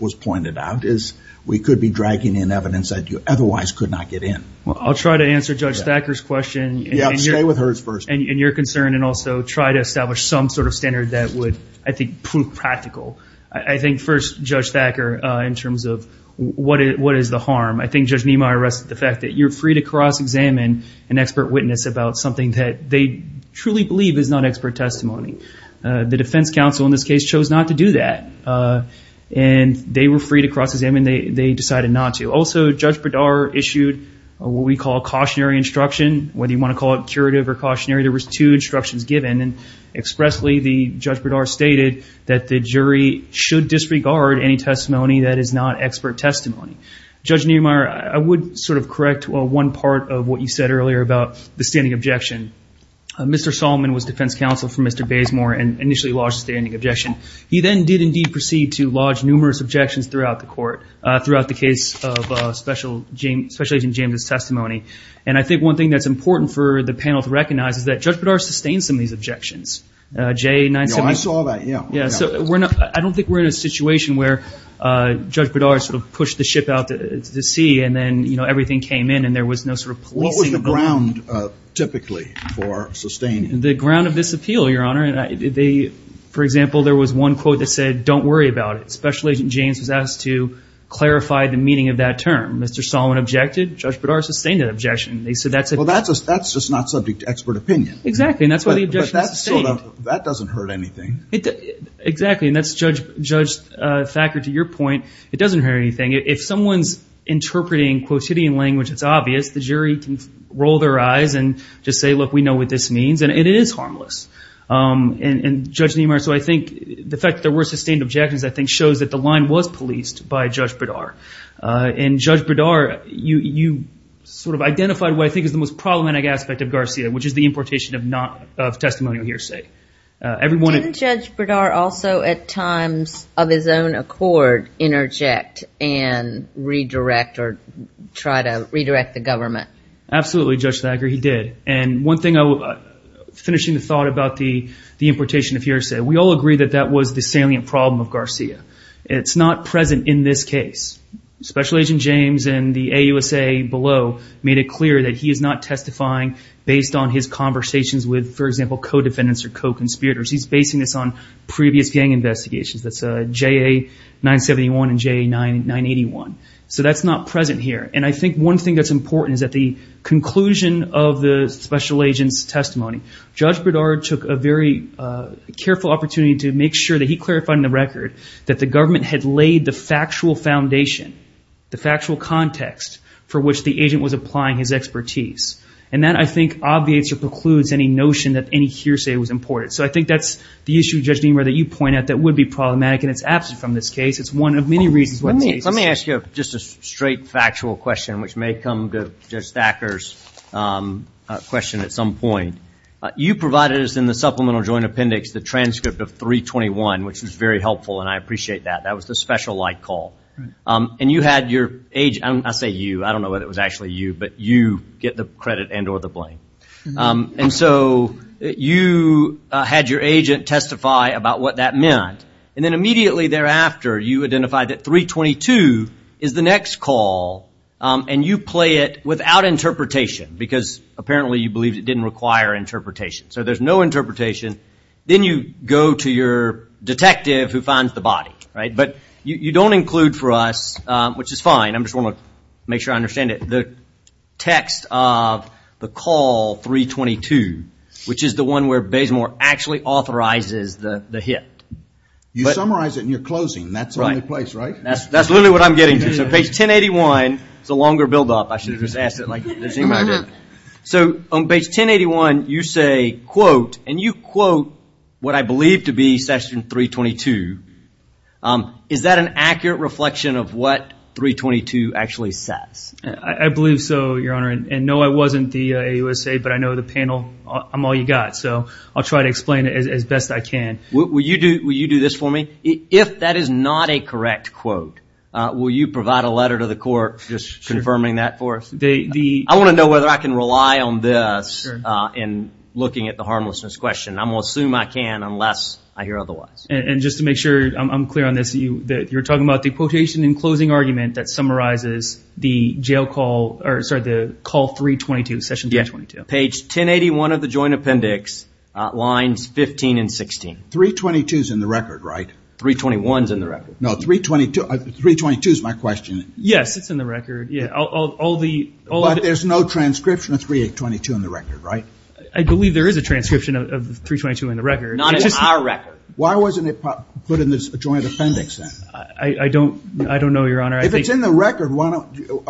was pointed out is we could be dragging in evidence that you otherwise could not get in. Well, I'll try to answer Judge Thacker's question. Yeah, stay with hers first. And your concern and also try to establish some sort of standard that would, I think, prove practical. I think first, Judge Thacker, in terms of what is the harm? I think Judge Niemeyer arrested the fact that you're free to cross-examine an expert witness about something that they truly believe is not expert testimony. The defense counsel in this case chose not to do that. And they were free to cross-examine. They decided not to. Also, Judge Bedard issued what we call cautionary instruction, whether you want to call it cautionary instruction, there was two instructions given. And expressly, the Judge Bedard stated that the jury should disregard any testimony that is not expert testimony. Judge Niemeyer, I would sort of correct one part of what you said earlier about the standing objection. Mr. Solomon was defense counsel for Mr. Bazemore and initially lodged a standing objection. He then did indeed proceed to lodge numerous objections throughout the court, throughout the case of Special Agent James' testimony. And I think one thing that's important for the panel to recognize is that Judge Bedard sustained some of these objections. Jay, 978. No, I saw that. Yeah. Yeah. So we're not, I don't think we're in a situation where Judge Bedard sort of pushed the ship out to the sea and then, you know, everything came in and there was no sort of policing. What was the ground, typically, for sustaining? The ground of this appeal, Your Honor. And they, for example, there was one quote that said, don't worry about it. Special Agent James was asked to clarify the meaning of that term. Mr. Solomon objected. Judge Bedard sustained that objection. They said that's it. Well, that's just not subject to expert opinion. Exactly. And that's why the objection is sustained. That doesn't hurt anything. Exactly. And that's, Judge Thacker, to your point, it doesn't hurt anything. If someone's interpreting quotidian language that's obvious, the jury can roll their eyes and just say, look, we know what this means. And it is harmless. And Judge Niemeyer, so I think the fact that there were sustained objections, I think, shows that the line was policed by Judge Bedard. And Judge Bedard, you sort of identified what I think is the most problematic aspect of Garcia, which is the importation of not, of testimonial hearsay. Didn't Judge Bedard also, at times of his own accord, interject and redirect or try to redirect the government? Absolutely, Judge Thacker, he did. And one thing, finishing the thought about the importation of hearsay, we all agree that that was the salient problem of Garcia. It's not present in this case. Special Agent James and the AUSA below made it clear that he is not testifying based on his conversations with, for example, co-defendants or co-conspirators. He's basing this on previous gang investigations. That's JA-971 and JA-981. So that's not present here. And I think one thing that's important is that the conclusion of the special agent's testimony, Judge Bedard took a very careful opportunity to make sure that he clarified in the record that the government had laid the factual foundation, the factual context for which the agent was applying his expertise. And that, I think, obviates or precludes any notion that any hearsay was imported. So I think that's the issue, Judge Niemeyer, that you point out that would be problematic. And it's absent from this case. It's one of many reasons why it's the case. Let me ask you just a straight factual question, which may come to Judge Thacker's question at some point. You provided us in the Supplemental Joint Appendix the transcript of 321, which is very helpful. And I appreciate that. That was the special light call. And you had your agent, I say you, I don't know whether it was actually you, but you get the credit and or the blame. And so you had your agent testify about what that meant. And then immediately thereafter, you identified that 322 is the next call. And you play it without interpretation because apparently you believe it didn't require interpretation. So there's no interpretation. Then you go to your detective who finds the body, right? But you don't include for us, which is fine. I'm just want to make sure I understand it. The text of the call 322, which is the one where Basemore actually authorizes the hit. You summarize it in your closing. That's the only place, right? That's literally what I'm getting to. So page 1081, it's a longer build up. I should have just asked it like the same way I did. So on page 1081, you say, quote, and you quote what I believe to be section 322. Is that an accurate reflection of what 322 actually says? I believe so, your honor. And no, I wasn't the AUSA, but I know the panel, I'm all you got. So I'll try to explain it as best I can. Will you do this for me? If that is not a correct quote, will you provide a letter to the court just confirming that for us? I want to know whether I can rely on this in looking at the harmlessness question. I'm going to assume I can, unless I hear otherwise. And just to make sure I'm clear on this, you're talking about the quotation in closing argument that summarizes the call 322, session 322. Page 1081 of the joint appendix, lines 15 and 16. 322 is in the record, right? 321 is in the record. Yes, it's in the record. Yeah, all the, all of it. But there's no transcription of 322 in the record, right? I believe there is a transcription of 322 in the record. Not in our record. Why wasn't it put in this joint appendix then? I don't, I don't know, your honor. If it's in the record, why don't you,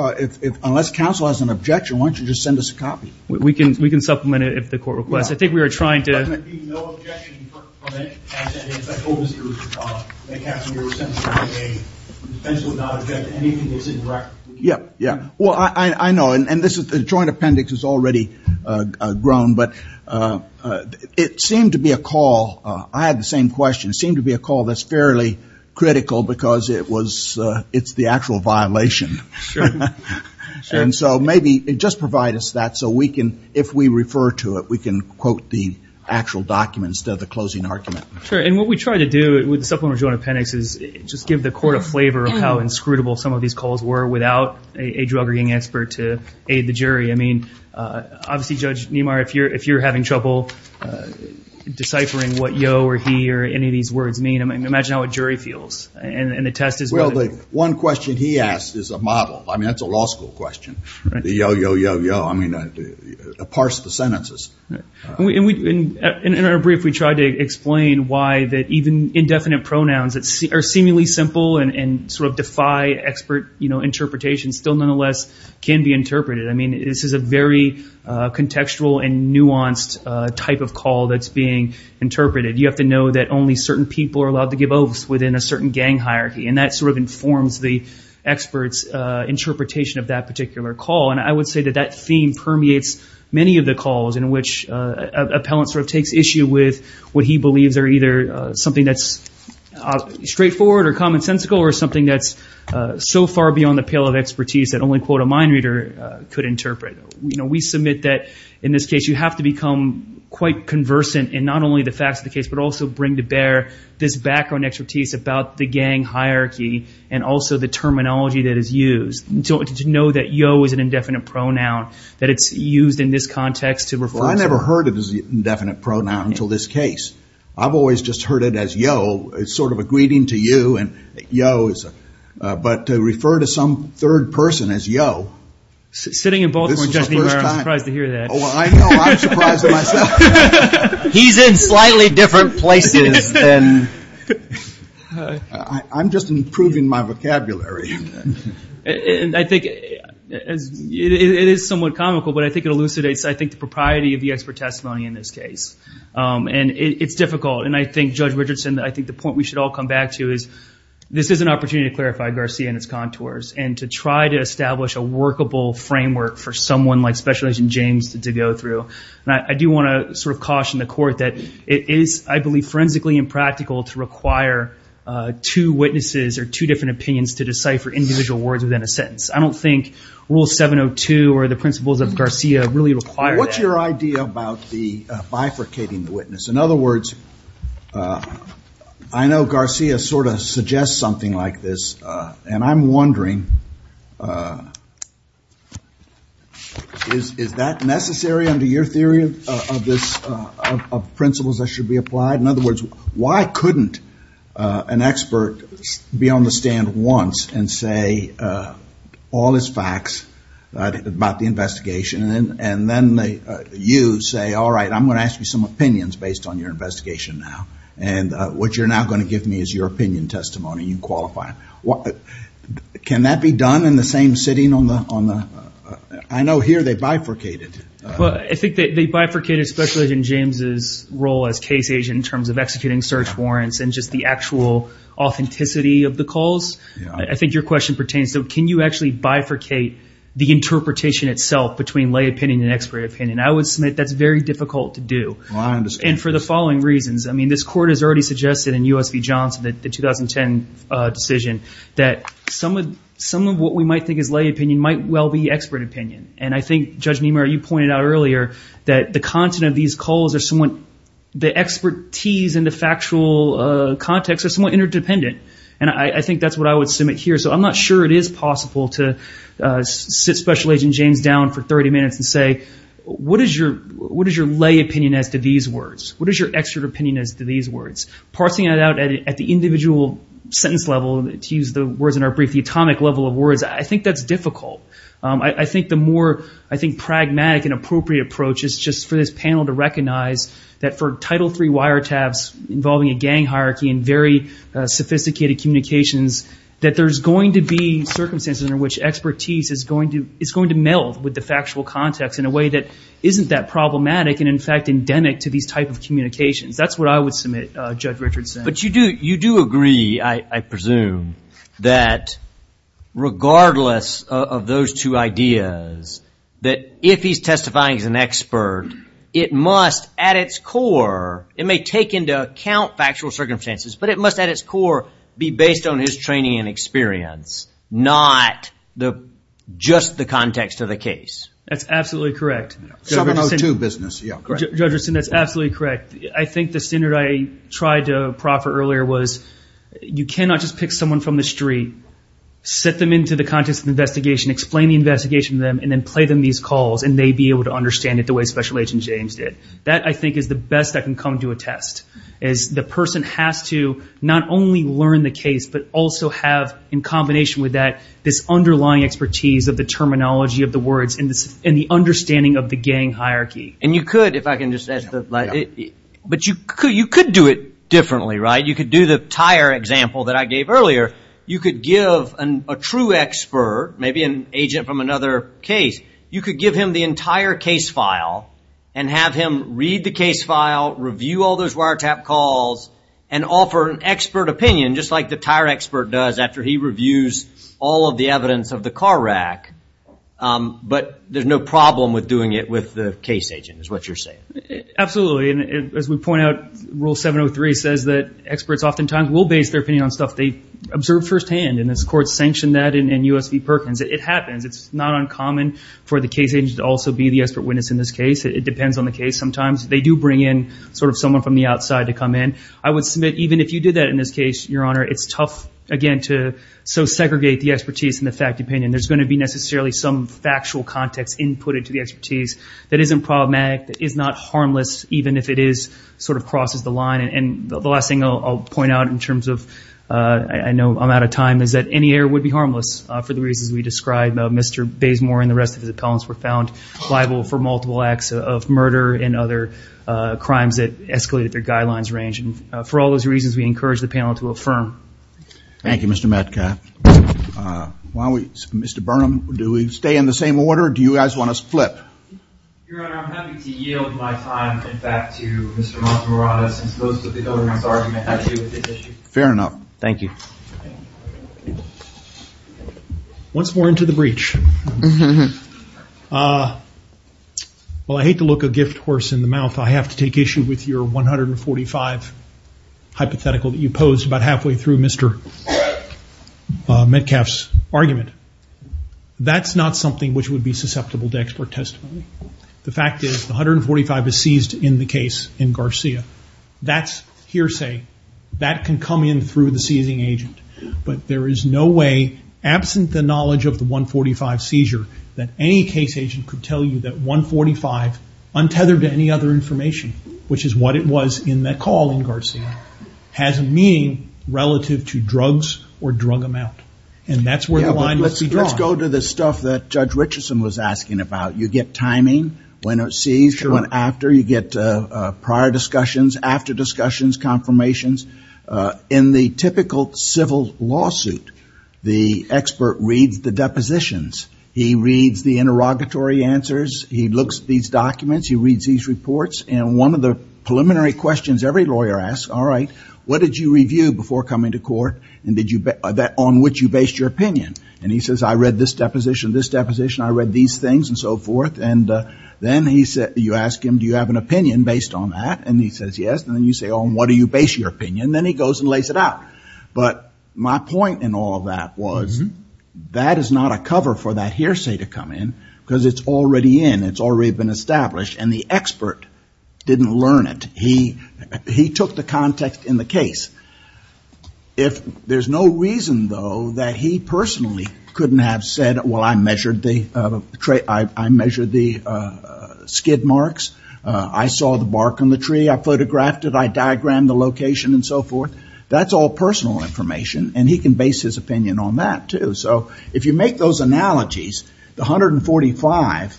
unless counsel has an objection, why don't you just send us a copy? We can, we can supplement it if the court requests. I think we were trying to. But there would be no objection from any counsel, any special visitors, any counselor who was sentenced on a date. The defense would not object to anything that's in the record. Yeah, yeah. Well, I know, and this is, the joint appendix is already grown, but it seemed to be a call. I had the same question. It seemed to be a call that's fairly critical because it was, it's the actual violation. Sure. And so maybe just provide us that so we can, if we refer to it, we can quote the actual document instead of the closing argument. Sure. And what we try to do with the supplementary joint appendix is just give the court a flavor of how inscrutable some of these calls were without a drug ring expert to aid the jury. I mean, obviously, Judge Niemeyer, if you're, if you're having trouble deciphering what yo or he, or any of these words mean, I mean, imagine how a jury feels. And the test is. Well, the one question he asked is a model. I mean, that's a law school question. The yo, yo, yo, yo. I mean, the parts of the sentences. And we, in our brief, we tried to explain why that even indefinite pronouns that are seemingly simple and sort of defy expert, you know, interpretation still nonetheless can be interpreted. I mean, this is a very contextual and nuanced type of call that's being interpreted. You have to know that only certain people are allowed to give oaths within a certain gang hierarchy. And that sort of informs the expert's interpretation of that particular call. And I would say that that theme permeates many of the calls in which an appellant sort of takes issue with what he believes are either something that's straightforward or commonsensical or something that's so far beyond the pale of expertise that only, quote, a mind reader could interpret. We submit that in this case, you have to become quite conversant in not only the facts of the case, but also bring to bear this background expertise about the gang hierarchy and also the terminology that is used. Did you know that yo is an indefinite pronoun, that it's used in this context to refer to? Well, I never heard it as an indefinite pronoun until this case. I've always just heard it as yo. It's sort of a greeting to you. And yo is, but to refer to some third person as yo. Sitting in Baltimore, I'm surprised to hear that. Oh, I know, I'm surprised at myself. He's in slightly different places than. I'm just improving my vocabulary. And I think it is somewhat comical, but I think it elucidates, I think, the propriety of the expert testimony in this case. And it's difficult. And I think Judge Richardson, I think the point we should all come back to is this is an opportunity to clarify Garcia and its contours and to try to establish a workable framework for someone like Special Agent James to go through. And I do want to sort of caution the court that it is, I believe, forensically impractical to require two witnesses or two different opinions to decipher individual words within a sentence. I don't think Rule 702 or the principles of Garcia really require that. What's your idea about the bifurcating the witness? In other words, I know Garcia sort of suggests something like this, and I'm wondering, is that necessary under your theory of this, of principles that should be applied? In other words, why couldn't an expert be on the stand once and say all is facts about the investigation? And then you say, all right, I'm going to ask you some opinions based on your investigation now, and what you're now going to give me is your opinion, testimony, and you qualify. Can that be done in the same sitting on the, I know here they bifurcated. Well, I think that they bifurcated Special Agent James's role as case agent in terms of executing search warrants and just the actual authenticity of the calls. I think your question pertains to, can you actually bifurcate the interpretation itself between lay opinion and expert opinion? I would submit that's very difficult to do. And for the following reasons, I mean, this court has already suggested in U.S. v. Johnson, the 2010 decision, that some of what we might think is lay opinion might well be expert opinion. And I think, Judge Niemeyer, you pointed out earlier that the content of these calls are somewhat, the expertise and the factual context are somewhat interdependent. And I think that's what I would submit here. So I'm not sure it is possible to sit Special Agent James down for 30 minutes and say, what is your lay opinion as to these words? What is your expert opinion as to these words? Parsing it out at the individual sentence level, to use the words in our brief, the atomic level of words, I think that's difficult. I think the more, I think, pragmatic and appropriate approach is just for this panel to recognize that for Title III wiretaps involving a gang hierarchy and very sophisticated communications, that there's going to be circumstances in which expertise is going to meld with the factual context in a way that isn't that problematic and, in fact, endemic to these type of communications. That's what I would submit, Judge Richardson. But you do agree, I presume, that regardless of those two ideas, that if he's testifying as an expert, it must, at its core, it may take into account factual circumstances, but it must, at its core, be based on his training and experience, not just the context of the case. That's absolutely correct. 702 business. Yeah. Judge Richardson, that's absolutely correct. I think the standard I tried to proffer earlier was you cannot just pick someone from the street, set them into the context of the investigation, explain the investigation to them, and then play them these calls, and they be able to understand it the way Special Agent James did. That, I think, is the best that can come to a test, is the person has to not only learn the case, but also have, in combination with that, this underlying expertise of the terminology of the words and the understanding of the gang hierarchy. And you could, if I can just add to that, but you could do it differently, right? You could do the tire example that I gave earlier. You could give a true expert, maybe an agent from another case, you could give him the entire case file and have him read the case file, review all those wiretap calls, and offer an expert opinion, just like the tire expert does after he reviews all of the evidence of the car rack. But there's no problem with doing it with the case agent, is what you're saying. Absolutely. And as we point out, Rule 703 says that experts oftentimes will base their opinion on stuff they observed firsthand, and this court sanctioned that in U.S. v. Perkins. It happens. It's not uncommon for the case agent to also be the expert witness in this case. It depends on the case. Sometimes they do bring in sort of someone from the outside to come in. I would submit, even if you did that in this case, Your Honor, it's tough, again, to so segregate the expertise and the fact opinion. There's going to be necessarily some factual context inputted to the expertise that isn't problematic, that is not harmless, even if it is sort of crosses the line. And the last thing I'll point out in terms of, I know I'm out of time, is that any error would be harmless for the reasons we described. Mr. Bazemore and the rest of his appellants were found liable for multiple acts of murder and other crimes that escalated their guidelines range. And for all those reasons, we encourage the panel to affirm. Thank you, Mr. Metcalf. Why don't we, Mr. Burnham, do we stay in the same order or do you guys want to split? Your Honor, I'm happy to yield my time in fact to Mr. Mazamorada since most of the government's argument has to do with this issue. Fair enough. Thank you. Once more into the breach. Well, I hate to look a gift horse in the mouth, I have to take issue with your 145 hypothetical that you posed about halfway through, Mr. Metcalf's argument. That's not something which would be susceptible to expert testimony. The fact is the 145 is seized in the case in Garcia. That's hearsay. That can come in through the seizing agent. But there is no way, absent the knowledge of the 145 seizure, that any case agent could tell you that 145, untethered to any other information, which is what it was in that call in Garcia, has meaning relative to drugs or drug amount. And that's where the line is drawn. Let's go to the stuff that Judge Richardson was asking about. You get timing, when it's seized, when after, you get prior discussions, after discussions, confirmations. In the typical civil lawsuit, the expert reads the depositions. He reads the interrogatory answers. He looks at these documents. He reads these reports. And one of the preliminary questions every lawyer asks, all right, what did you review before coming to court? And on which you based your opinion? And he says, I read this deposition, this deposition, I read these things, and so forth. And then you ask him, do you have an opinion based on that? And he says, yes. And then you say, on what do you base your opinion? Then he goes and lays it out. But my point in all of that was, that is not a cover for that hearsay to come in, because it's already in. It's already been established. And the expert didn't learn it. He took the context in the case. If there's no reason, though, that he personally couldn't have said, well, I measured the skid marks. I saw the bark on the tree. I photographed it. I diagrammed the location, and so forth. That's all personal information. And he can base his opinion on that, too. So if you make those analogies, the 145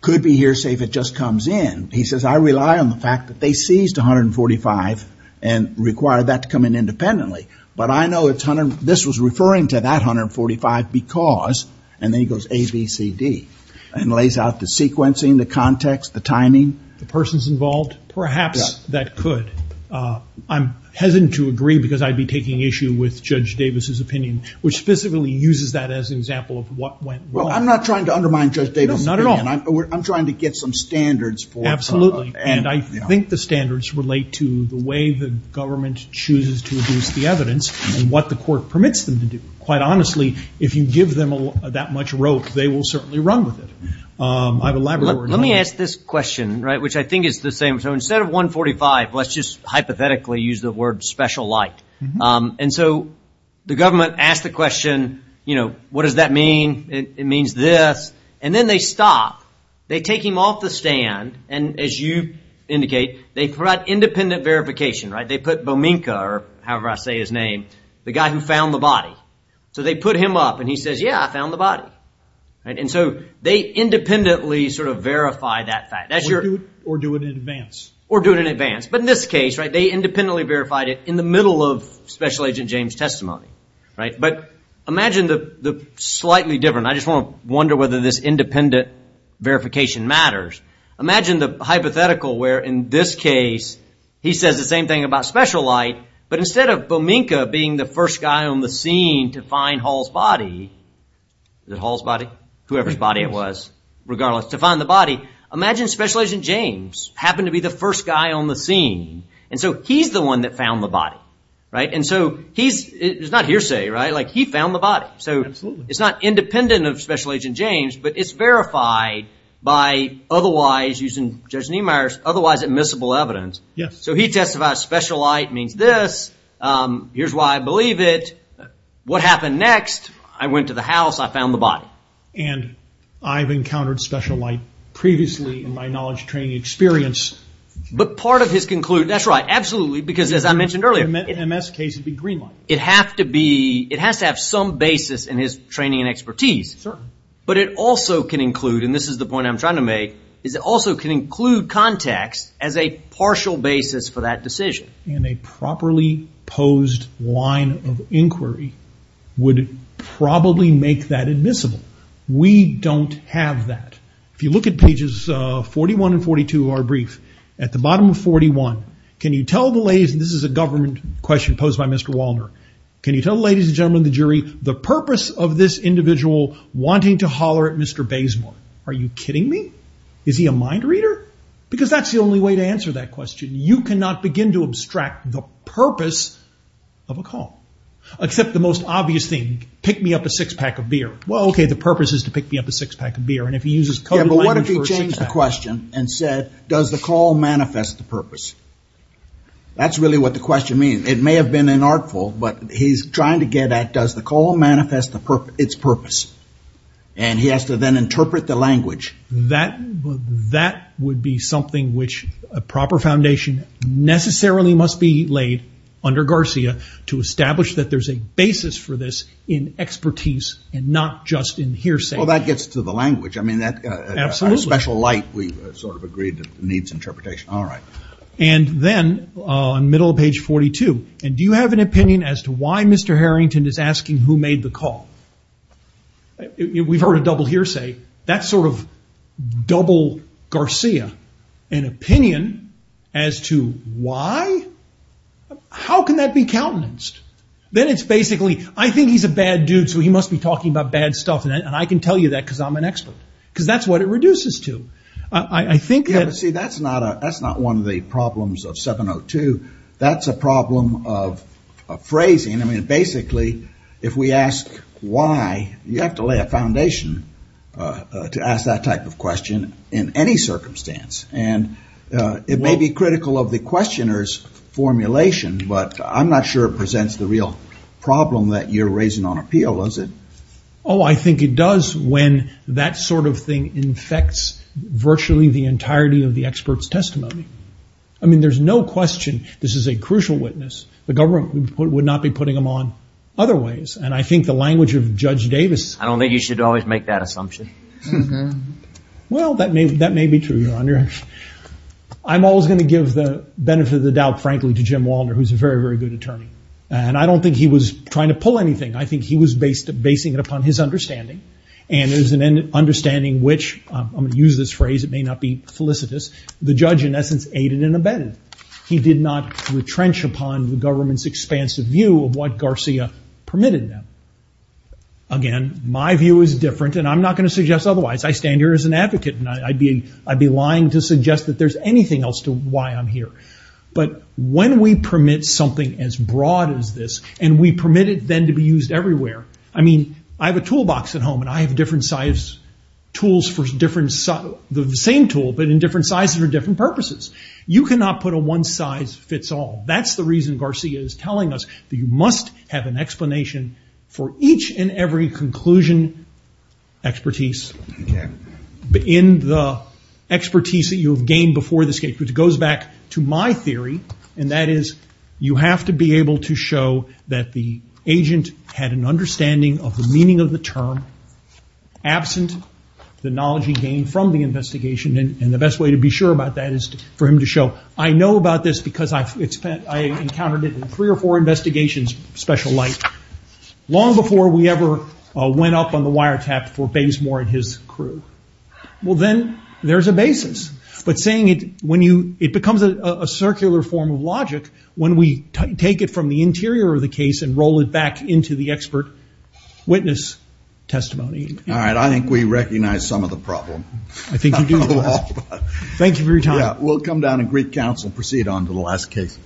could be hearsay if it just comes in. He says, I rely on the fact that they seized 145 and required that to come in independently. But I know this was referring to that 145 because, and then he goes A, B, C, D. And lays out the sequencing, the context, the timing. The persons involved? Perhaps that could. I'm hesitant to agree, because I'd be taking issue with Judge Davis's opinion, which specifically uses that as an example of what went wrong. Well, I'm not trying to undermine Judge Davis's opinion. Not at all. I'm trying to get some standards for. Absolutely. And I think the standards relate to the way the government chooses to abuse the evidence, and what the court permits them to do. Quite honestly, if you give them that much rope, they will certainly run with it. I've elaborated on that. Let me ask this question, which I think is the same. So instead of 145, let's just hypothetically use the word special light. And so the government asked the question, what does that mean? It means this. And then they stop. They take him off the stand. And as you indicate, they provide independent verification. They put Bominca, or however I say his name, the guy who found the body. So they put him up, and he says, yeah, I found the body. And so they independently sort of verify that fact. Or do it in advance. Or do it in advance. But in this case, they independently verified it in the middle of Special Agent James' testimony. But imagine the slightly different. I just want to wonder whether this independent verification matters. Imagine the hypothetical where, in this case, he says the same thing about special light. But instead of Bominca being the first guy on the scene to find Hall's body. Is it Hall's body? Whoever's body it was, regardless. To find the body. Imagine Special Agent James happened to be the first guy on the scene. And so he's the one that found the body. And so it's not hearsay, right? Like, he found the body. So it's not independent of Special Agent James. But it's verified by otherwise, using Judge Niemeyer's otherwise admissible evidence. So he testifies special light means this. Here's why I believe it. What happened next? I went to the house. I found the body. And I've encountered special light previously in my knowledge training experience. But part of his conclusion, that's right, absolutely. Because as I mentioned earlier. In an MS case, it'd be green light. It has to be, it has to have some basis in his training and expertise. Certainly. But it also can include, and this is the point I'm trying to make, is it also can include context as a partial basis for that decision. And a properly posed line of inquiry would probably make that admissible. We don't have that. If you look at pages 41 and 42 of our brief, at the bottom of 41, can you tell the ladies, and this is a government question posed by Mr. Walner, can you tell the ladies and gentlemen of the jury, the purpose of this individual wanting to holler at Mr. Bazemore? Are you kidding me? Is he a mind reader? Because that's the only way to answer that question. You cannot begin to abstract the purpose of a call. Except the most obvious thing, pick me up a six pack of beer. Well, okay, the purpose is to pick me up a six pack of beer. And if he uses coded language for a six pack of beer. Yeah, but what if he changed the question and said, does the call manifest the purpose? That's really what the question means. It may have been an artful, but he's trying to get at, does the call manifest its purpose? And he has to then interpret the language. That would be something which a proper foundation necessarily must be laid under Garcia to establish that there's a basis for this in expertise and not just in hearsay. Well, that gets to the language. I mean, that's a special light. We sort of agreed that it needs interpretation. All right. And then, on middle of page 42, and do you have an opinion as to why Mr. Harrington is asking who made the call? We've heard a double hearsay. That's sort of double Garcia. An opinion as to why, how can that be countenanced? Then it's basically, I think he's a bad dude, so he must be talking about bad stuff, and I can tell you that because I'm an expert. Because that's what it reduces to. I think that- Yeah, but see, that's not one of the problems of 702. That's a problem of phrasing. I mean, basically, if we ask why, you have to lay a foundation to ask that type of question in any circumstance. And it may be critical of the questioner's formulation, but I'm not sure it presents the real problem that you're raising on appeal, does it? Oh, I think it does when that sort of thing infects virtually the entirety of the expert's testimony. I mean, there's no question this is a crucial witness. The government would not be putting them on otherwise. And I think the language of Judge Davis- I don't think you should always make that assumption. Well, that may be true, Your Honor. I'm always going to give the benefit of the doubt, frankly, to Jim Walder, who's a very, very good attorney. And I don't think he was trying to pull anything. I think he was basing it upon his understanding. And it was an understanding which, I'm going to use this phrase, it may not be felicitous, the judge, in essence, aided and abetted. He did not retrench upon the government's expansive view of what Garcia permitted them. Again, my view is different and I'm not going to suggest otherwise. I stand here as an advocate and I'd be lying to suggest that there's anything else to why I'm here. But when we permit something as broad as this, and we permit it then to be used everywhere. I mean, I have a toolbox at home and I have different size tools for the same tool, but in different sizes for different purposes. You cannot put a one size fits all. That's the reason Garcia is telling us that you must have an explanation for each and every conclusion expertise in the expertise that you have gained before this case, which goes back to my theory. And that is, you have to be able to show that the agent had an understanding of the meaning of the term absent the knowledge he gained from the investigation. And the best way to be sure about that is for him to show, I know about this because I encountered it in three or four investigations, special light, long before we ever went up on the wiretap for Bazemore and his crew. Well, then there's a basis, but saying it, when you, it becomes a circular form of logic when we take it from the interior of the case and roll it back into the expert witness testimony. All right. I think we recognize some of the problem. I think you do. Thank you for your time. We'll come down and Greek council, proceed on to the last case.